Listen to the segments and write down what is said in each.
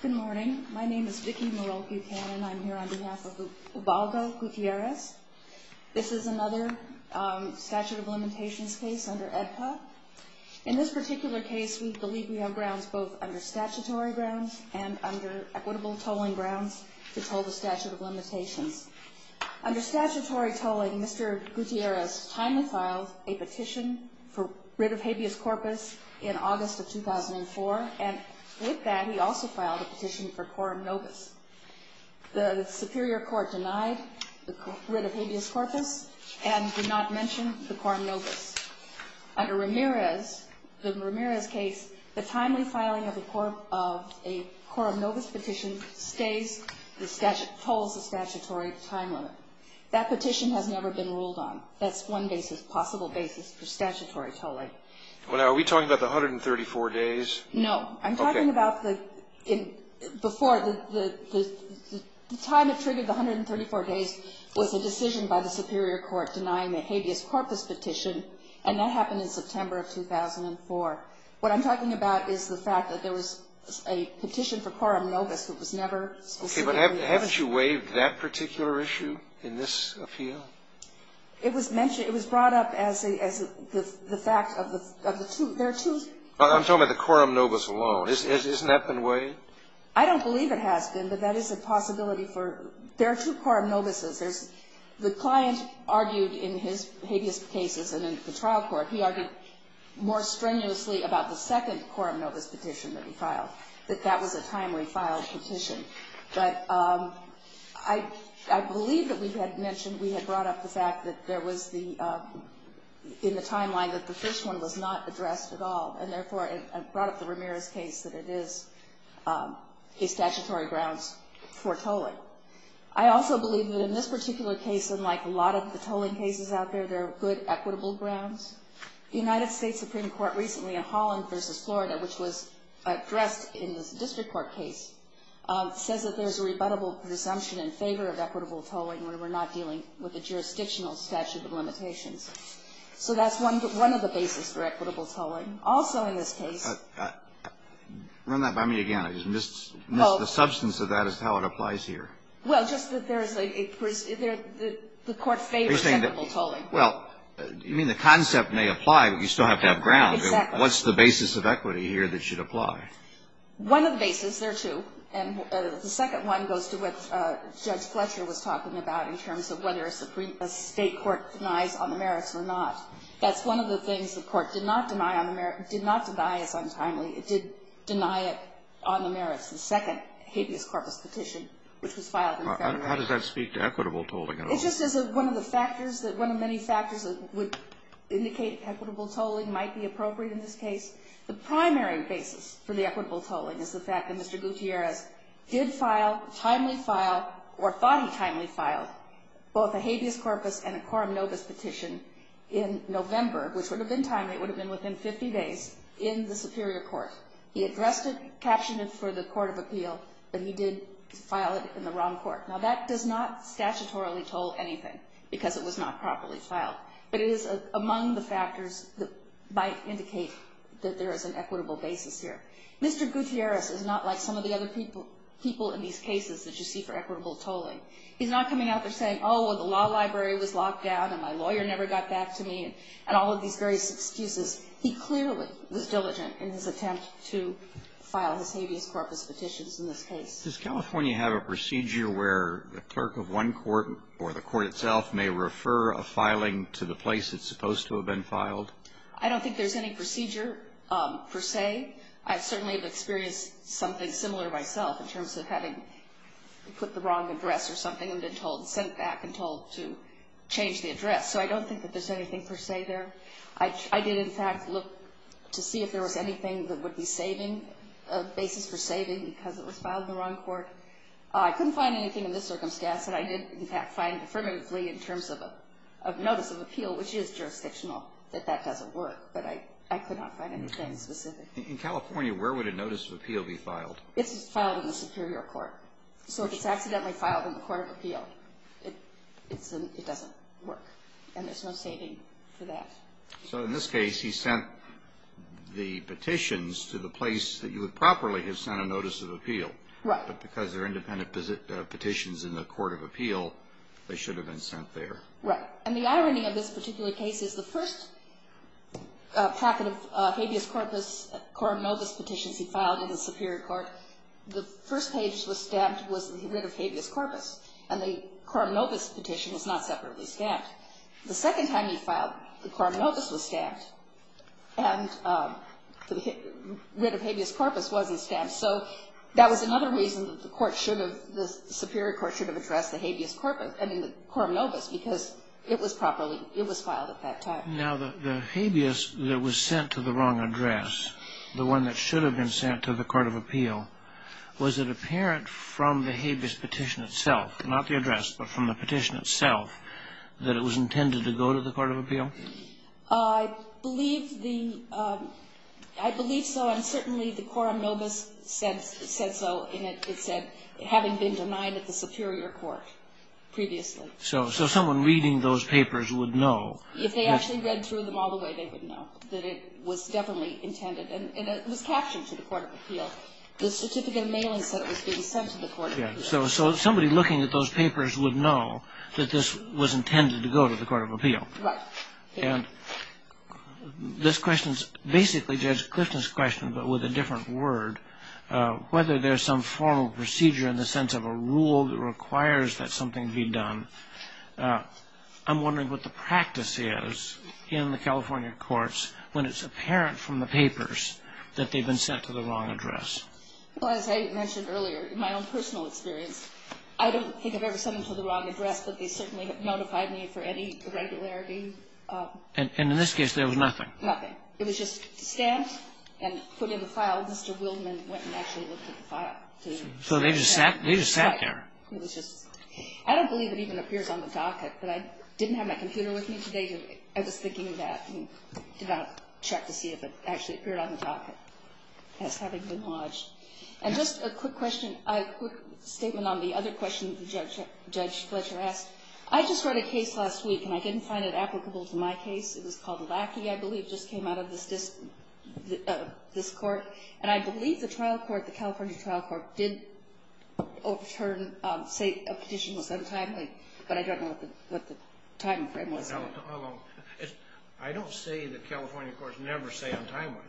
Good morning, my name is Vicki Morel Gutierrez and I'm here on behalf of Ubaldo Gutierrez. This is another statute of limitations case under EDPA. In this particular case, we believe we have grounds both under statutory grounds and under equitable tolling grounds to toll the statute of limitations. Under statutory tolling, Mr. Gutierrez timely filed a petition for rid of habeas corpus in August of 2004, and with that he also filed a petition for quorum novus. The superior court denied the rid of habeas corpus and did not mention the quorum novus. Under Ramirez, in Ramirez's case, the timely filing of a quorum novus petition stays, tolls the statutory time limit. That petition has never been ruled on. That's one possible basis for statutory tolling. Well, now, are we talking about the 134 days? No. Okay. I'm talking about the, before, the time that triggered the 134 days was a decision by the superior court denying the habeas corpus petition, and that happened in September of 2004. What I'm talking about is the fact that there was a petition for quorum novus that was never specifically mentioned. Okay, but haven't you waived that particular issue in this appeal? It was mentioned, it was brought up as the fact of the two, there are two. I'm talking about the quorum novus alone. Isn't that been waived? I don't believe it has been, but that is a possibility for, there are two quorum novuses. There's, the client argued in his habeas cases and in the trial court, he argued more strenuously about the second quorum novus petition that he filed, that that was a timely filed petition. But I believe that we had mentioned, we had brought up the fact that there was the, in the timeline that the first one was not addressed at all, and therefore it brought up the Ramirez case that it is a statutory grounds for tolling. I also believe that in this particular case, unlike a lot of the tolling cases out there, there are good equitable grounds. The United States Supreme Court recently in Holland versus Florida, which was addressed in the district court case, says that there's a rebuttable presumption in favor of equitable tolling when we're not dealing with a jurisdictional statute of limitations. So that's one of the basis for equitable tolling. Also in this case. Run that by me again. I just missed the substance of that as to how it applies here. Well, just that there's a, the court favors equitable tolling. Well, you mean the concept may apply, but you still have to have grounds. Exactly. What's the basis of equity here that should apply? One of the basis, there are two, and the second one goes to what Judge Fletcher was talking about in terms of whether a state court denies on the merits or not. That's one of the things the court did not deny as untimely. It did deny it on the merits. The second habeas corpus petition, which was filed in February. How does that speak to equitable tolling at all? It just is one of the factors, would indicate equitable tolling might be appropriate in this case. The primary basis for the equitable tolling is the fact that Mr. Gutierrez did file, timely file, or thought he timely filed, both a habeas corpus and a quorum nobis petition in November, which would have been timely, it would have been within 50 days, in the superior court. He addressed it, captioned it for the court of appeal, but he did file it in the wrong court. Now, that does not statutorily toll anything, because it was not properly filed. But it is among the factors that might indicate that there is an equitable basis here. Mr. Gutierrez is not like some of the other people in these cases that you see for equitable tolling. He's not coming out there saying, oh, the law library was locked down and my lawyer never got back to me, and all of these various excuses. He clearly was diligent in his attempt to file his habeas corpus petitions in this case. Does California have a procedure where the clerk of one court or the court itself may refer a filing to the place it's supposed to have been filed? I don't think there's any procedure per se. I certainly have experienced something similar myself in terms of having put the wrong address or something and been told, sent back and told to change the address. So I don't think that there's anything per se there. I did, in fact, look to see if there was anything that would be saving, a basis for saving because it was filed in the wrong court. I couldn't find anything in this circumstance that I did, in fact, find affirmatively in terms of a notice of appeal, which is jurisdictional, that that doesn't work. But I could not find anything specific. In California, where would a notice of appeal be filed? It's filed in the superior court. So if it's accidentally filed in the court of appeal, it doesn't work. And there's no saving for that. So in this case, he sent the petitions to the place that you would properly have sent a notice of appeal. Right. But because they're independent petitions in the court of appeal, they should have been sent there. Right. And the irony of this particular case is the first packet of habeas corpus, quorum novus petitions he filed in the superior court, the first page that was stamped was the writ of habeas corpus. And the quorum novus petition was not separately stamped. The second time he filed, the quorum novus was stamped. And the writ of habeas corpus wasn't stamped. So that was another reason that the court should have, the superior court should have addressed the habeas corpus, I mean, the quorum novus, because it was properly, it was filed at that time. Now, the habeas that was sent to the wrong address, the one that should have been sent to the court of appeal, was it apparent from the habeas petition itself, not the address, but from the petition itself, that it was intended to go to the court of appeal? I believe the, I believe so. And certainly the quorum novus said so in that it said, having been denied at the superior court previously. So someone reading those papers would know. If they actually read through them all the way, they would know that it was definitely intended. And it was captioned to the court of appeal. The certificate of mailing said it was being sent to the court of appeal. So somebody looking at those papers would know that this was intended to go to the court of appeal. Right. And this question is basically Judge Clifton's question, but with a different word. Whether there's some formal procedure in the sense of a rule that requires that something be done. I'm wondering what the practice is in the California courts when it's apparent from the papers that they've been sent to the wrong address. Well, as I mentioned earlier, in my own personal experience, I don't think I've ever sent them to the wrong address, but they certainly have notified me for any irregularity. And in this case, there was nothing. Nothing. It was just stamped and put in the file. Mr. Wildman went and actually looked at the file. So they just sat there. Right. It was just. I don't believe it even appears on the docket, but I didn't have my computer with me today. I was thinking that and did not check to see if it actually appeared on the docket. That's having been lodged. And just a quick question, a quick statement on the other question that Judge Fletcher asked. I just wrote a case last week, and I didn't find it applicable to my case. It was called Lackey, I believe, just came out of this court. And I believe the trial court, the California trial court, did overturn, say a petition was untimely. But I don't know what the timeframe was. I don't say the California courts never say untimely.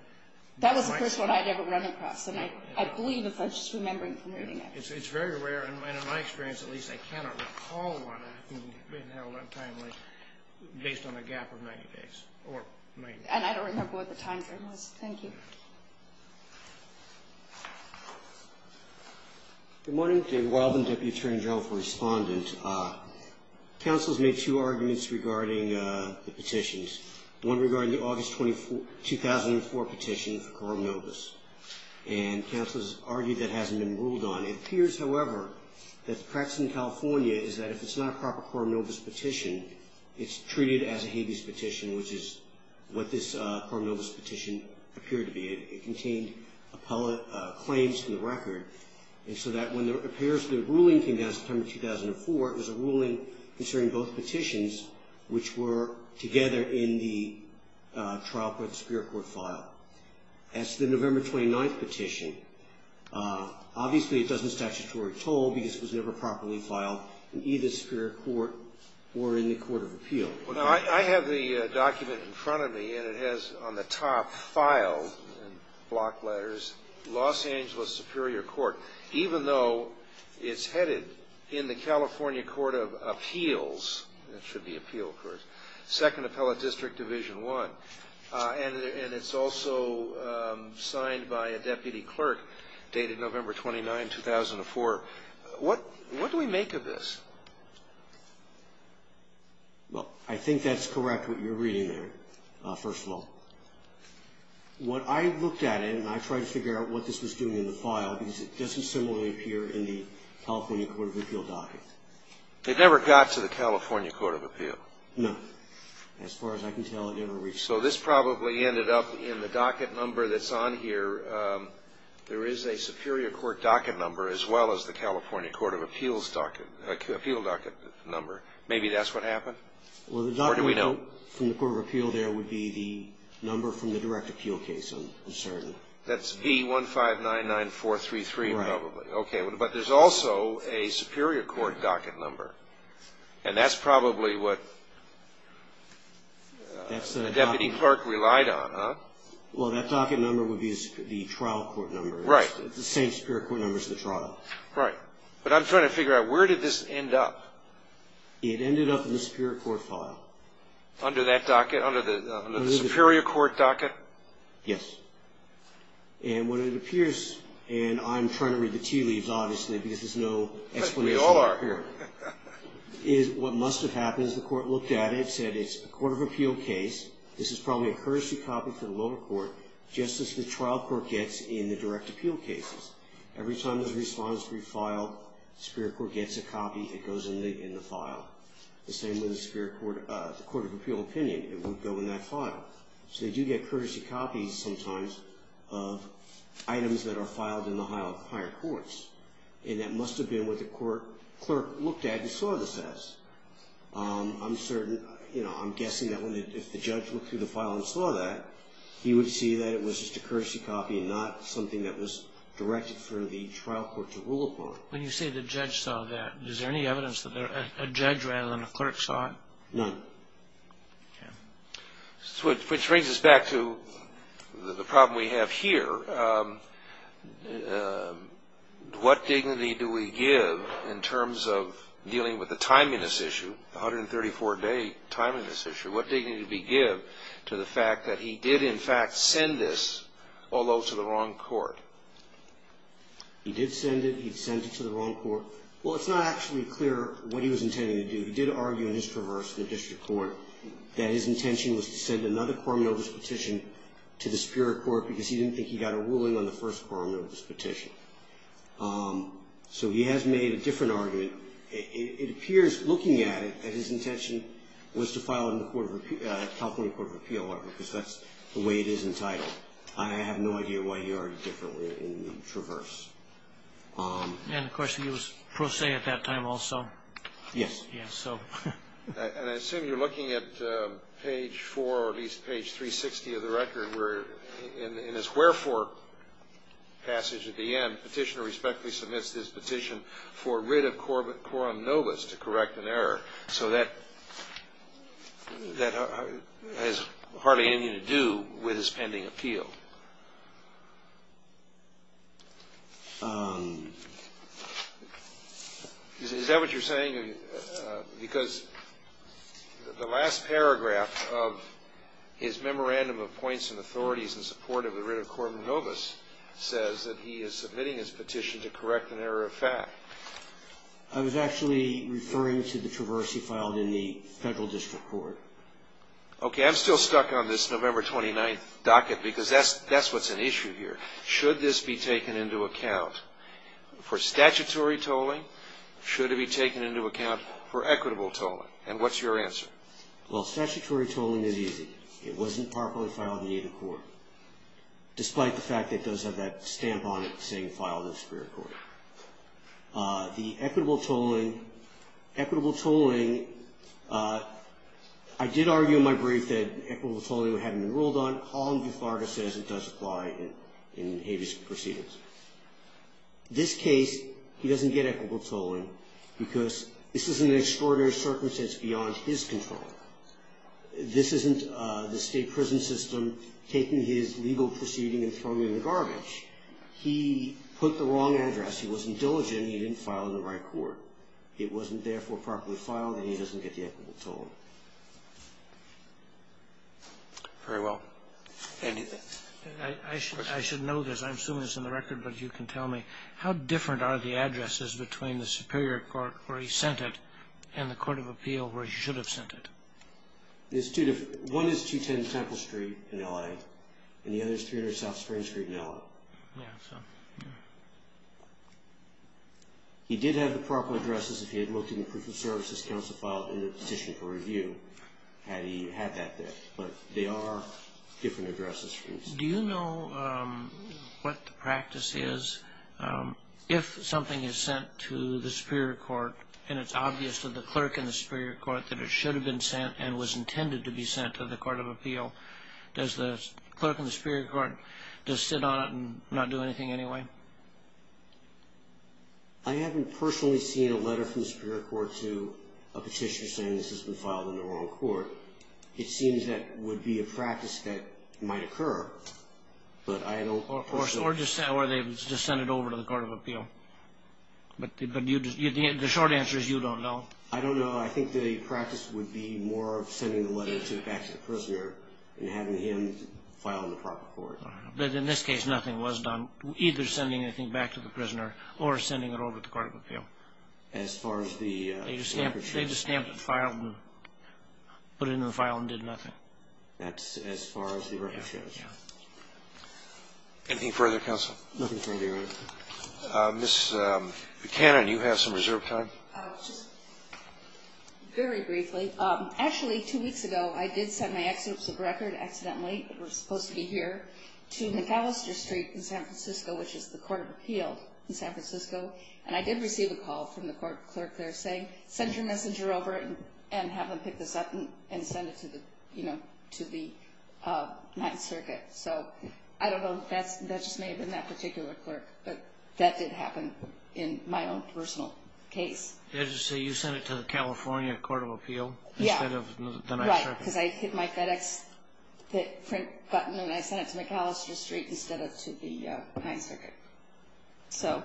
That was the first one I'd ever run across, and I believe the Fletcher's remembering from reading it. It's very rare, and in my experience, at least, I cannot recall one being held untimely based on a gap of 90 days. And I don't remember what the timeframe was. Thank you. Good morning. Dave Wildman, Deputy Attorney General for Respondent. Counsel has made two arguments regarding the petitions. One regarding the August 2004 petition for coronavirus, and counsel has argued that hasn't been ruled on. It appears, however, that the practice in California is that if it's not a proper coronavirus petition, it's treated as a habeas petition, which is what this coronavirus petition appeared to be. It contained claims to the record, and so that when it appears the ruling came down September 2004, it was a ruling concerning both petitions, which were together in the trial court, Superior Court file. As to the November 29th petition, obviously it doesn't statutory toll because it was never properly filed in either Superior Court or in the Court of Appeal. I have the document in front of me, and it has on the top, filed in block letters, Los Angeles Superior Court, even though it's headed in the California Court of Appeals. It should be Appeal, of course. Second Appellate District, Division I. And it's also signed by a deputy clerk dated November 29, 2004. What do we make of this? Well, I think that's correct what you're reading there, first of all. What I looked at it, and I tried to figure out what this was doing in the file, because it doesn't similarly appear in the California Court of Appeal docket. They never got to the California Court of Appeal. No. As far as I can tell, it never reached. So this probably ended up in the docket number that's on here. There is a Superior Court docket number as well as the California Court of Appeals docket, Appeal docket number. Maybe that's what happened. Or do we know? Well, the docket number from the Court of Appeal there would be the number from the direct appeal case, I'm certain. That's B1599433, probably. Right. Okay. But there's also a Superior Court docket number. And that's probably what the deputy clerk relied on, huh? Well, that docket number would be the trial court number. Right. It's the same Superior Court number as the trial. Right. But I'm trying to figure out, where did this end up? It ended up in the Superior Court file. Under that docket, under the Superior Court docket? Yes. And what it appears, and I'm trying to read the tea leaves, obviously, because there's no explanation. We all are. What must have happened is the court looked at it, said it's a Court of Appeal case. This is probably a courtesy copy for the lower court, just as the trial court gets in the direct appeal cases. Every time there's a response to be filed, the Superior Court gets a copy. It goes in the file. The same with the Court of Appeal opinion. It would go in that file. So they do get courtesy copies sometimes of items that are filed in the higher courts. And that must have been what the clerk looked at and saw this as. I'm certain, you know, I'm guessing that if the judge looked through the file and saw that, he would see that it was just a courtesy copy and not something that was directed for the trial court to rule upon. When you say the judge saw that, is there any evidence that a judge rather than a clerk saw it? None. Okay. Which brings us back to the problem we have here. What dignity do we give in terms of dealing with the timing of this issue, the 134-day timing of this issue? What dignity do we give to the fact that he did, in fact, send this, although to the wrong court? He did send it. He sent it to the wrong court. Well, it's not actually clear what he was intending to do. He did argue in his traverse in the district court that his intention was to send another Cormelos petition to the Superior Court because he didn't think he got a ruling on the first Cormelos petition. So he has made a different argument. It appears, looking at it, that his intention was to file it in the California Court of Appeal, because that's the way it is entitled. I have no idea why he argued differently in the traverse. And, of course, he was pro se at that time also. Yes. Yes. And I assume you're looking at page 4 or at least page 360 of the record, where in his wherefore passage at the end, Petitioner respectfully submits his petition for writ of quorum nobis to correct an error. So that has hardly anything to do with his pending appeal. Is that what you're saying? Because the last paragraph of his memorandum of points and authorities in support of the writ of quorum nobis says that he is submitting his petition to correct an error of fact. I was actually referring to the traverse he filed in the federal district court. Okay. I am still stuck on this November 29th docket, because that's what's an issue here. Should this be taken into account for statutory tolling? Should it be taken into account for equitable tolling? And what's your answer? Well, statutory tolling is easy. It wasn't properly filed in either court, despite the fact that it does have that stamp on it saying filed in a superior court. The equitable tolling. Equitable tolling. I did argue in my brief that equitable tolling would have been ruled on. Colin Guthard has said it does apply in habeas proceedings. This case, he doesn't get equitable tolling, because this is an extraordinary circumstance beyond his control. This isn't the state prison system taking his legal proceeding and throwing it in the garbage. He put the wrong address. He wasn't diligent. He didn't file in the right court. It wasn't, therefore, properly filed, and he doesn't get the equitable tolling. Very well. Andy, thanks. I should know this. I assume it's in the record, but you can tell me. How different are the addresses between the superior court where he sent it and the court of appeal where he should have sent it? One is 210 Temple Street in L.A., and the other is 300 South Springs Street in L.A. Yeah, so. He did have the proper addresses if he had looked in the proof of service his counsel filed in the petition for review, had he had that there. But they are different addresses. Do you know what the practice is if something is sent to the superior court, and it's obvious to the clerk in the superior court that it should have been sent and was intended to be sent to the court of appeal? Does the clerk in the superior court just sit on it and not do anything anyway? I haven't personally seen a letter from the superior court to a petitioner saying this has been filed in the wrong court. It seems that would be a practice that might occur, but I don't personally. Or they just send it over to the court of appeal. But the short answer is you don't know. I don't know. I think the practice would be more of sending the letter back to the prisoner and having him file in the proper court. But in this case, nothing was done, either sending anything back to the prisoner or sending it over to the court of appeal. As far as the record shows. They just stamped the file and put it in the file and did nothing. That's as far as the record shows. Yeah. Anything further, counsel? Nothing further, Your Honor. Ms. Buchanan, you have some reserve time. Just very briefly. Actually, two weeks ago, I did send my excerpts of record, accidentally, that were supposed to be here, to Macalester Street in San Francisco, which is the court of appeal in San Francisco. And I did receive a call from the court clerk there saying, send your messenger over and have them pick this up and send it to the Ninth Circuit. So I don't know. That just may have been that particular clerk. But that did happen in my own personal case. Did you say you sent it to the California Court of Appeal instead of the Ninth Circuit? Yeah, right, because I hit my FedEx print button and I sent it to Macalester Street instead of to the Ninth Circuit.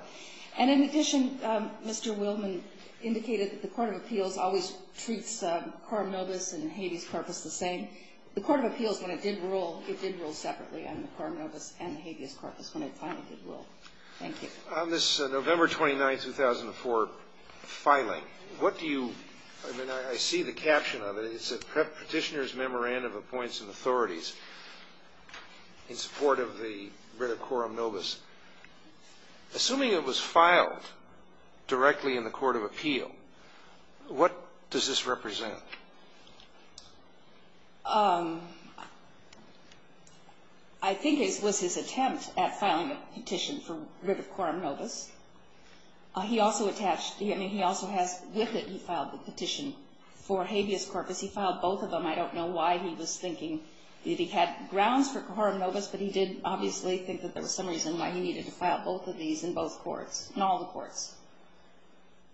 And in addition, Mr. Willman indicated that the court of appeals always treats Coram Nobis and Habeas Corpus the same. The court of appeals, when it did rule, it did rule separately on the Coram Nobis and the Habeas Corpus when it finally did rule. Thank you. On this November 29, 2004 filing, what do you – I mean, I see the caption of it. It's a petitioner's memorandum of appoints and authorities in support of the writ of Coram Nobis. Assuming it was filed directly in the court of appeal, what does this represent? I think it was his attempt at filing a petition for writ of Coram Nobis. He also attached – I mean, he also has – with it, he filed the petition for Habeas Corpus. He filed both of them. I don't know why he was thinking that he had grounds for Coram Nobis, but he did obviously think that there was some reason why he needed to file both of these in both courts, in all the courts.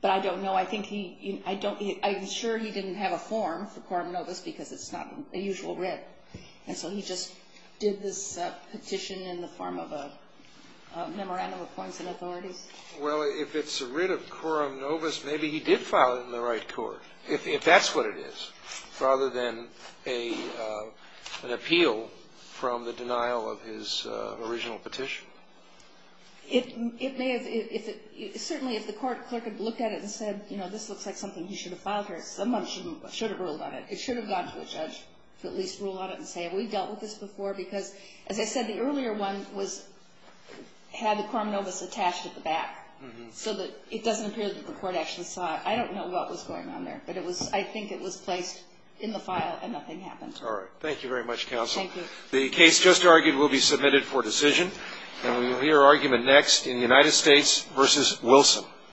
But I don't know. I think he – I don't – I'm sure he didn't have a form for Coram Nobis because it's not a usual writ. And so he just did this petition in the form of a memorandum of appoints and authorities. Well, if it's a writ of Coram Nobis, maybe he did file it in the right court, if that's what it is, rather than an appeal from the denial of his original petition. It may have – certainly if the court clerk had looked at it and said, you know, this looks like something he should have filed here, someone should have ruled on it. It should have gone to a judge to at least rule on it and say, have we dealt with this before? Because, as I said, the earlier one was – had the Coram Nobis attached at the back, so that it doesn't appear that the court actually saw it. I don't know what was going on there. But it was – I think it was placed in the file and nothing happened. All right. Thank you very much, counsel. Thank you. The case just argued will be submitted for decision. And we will hear argument next in United States v. Wilson.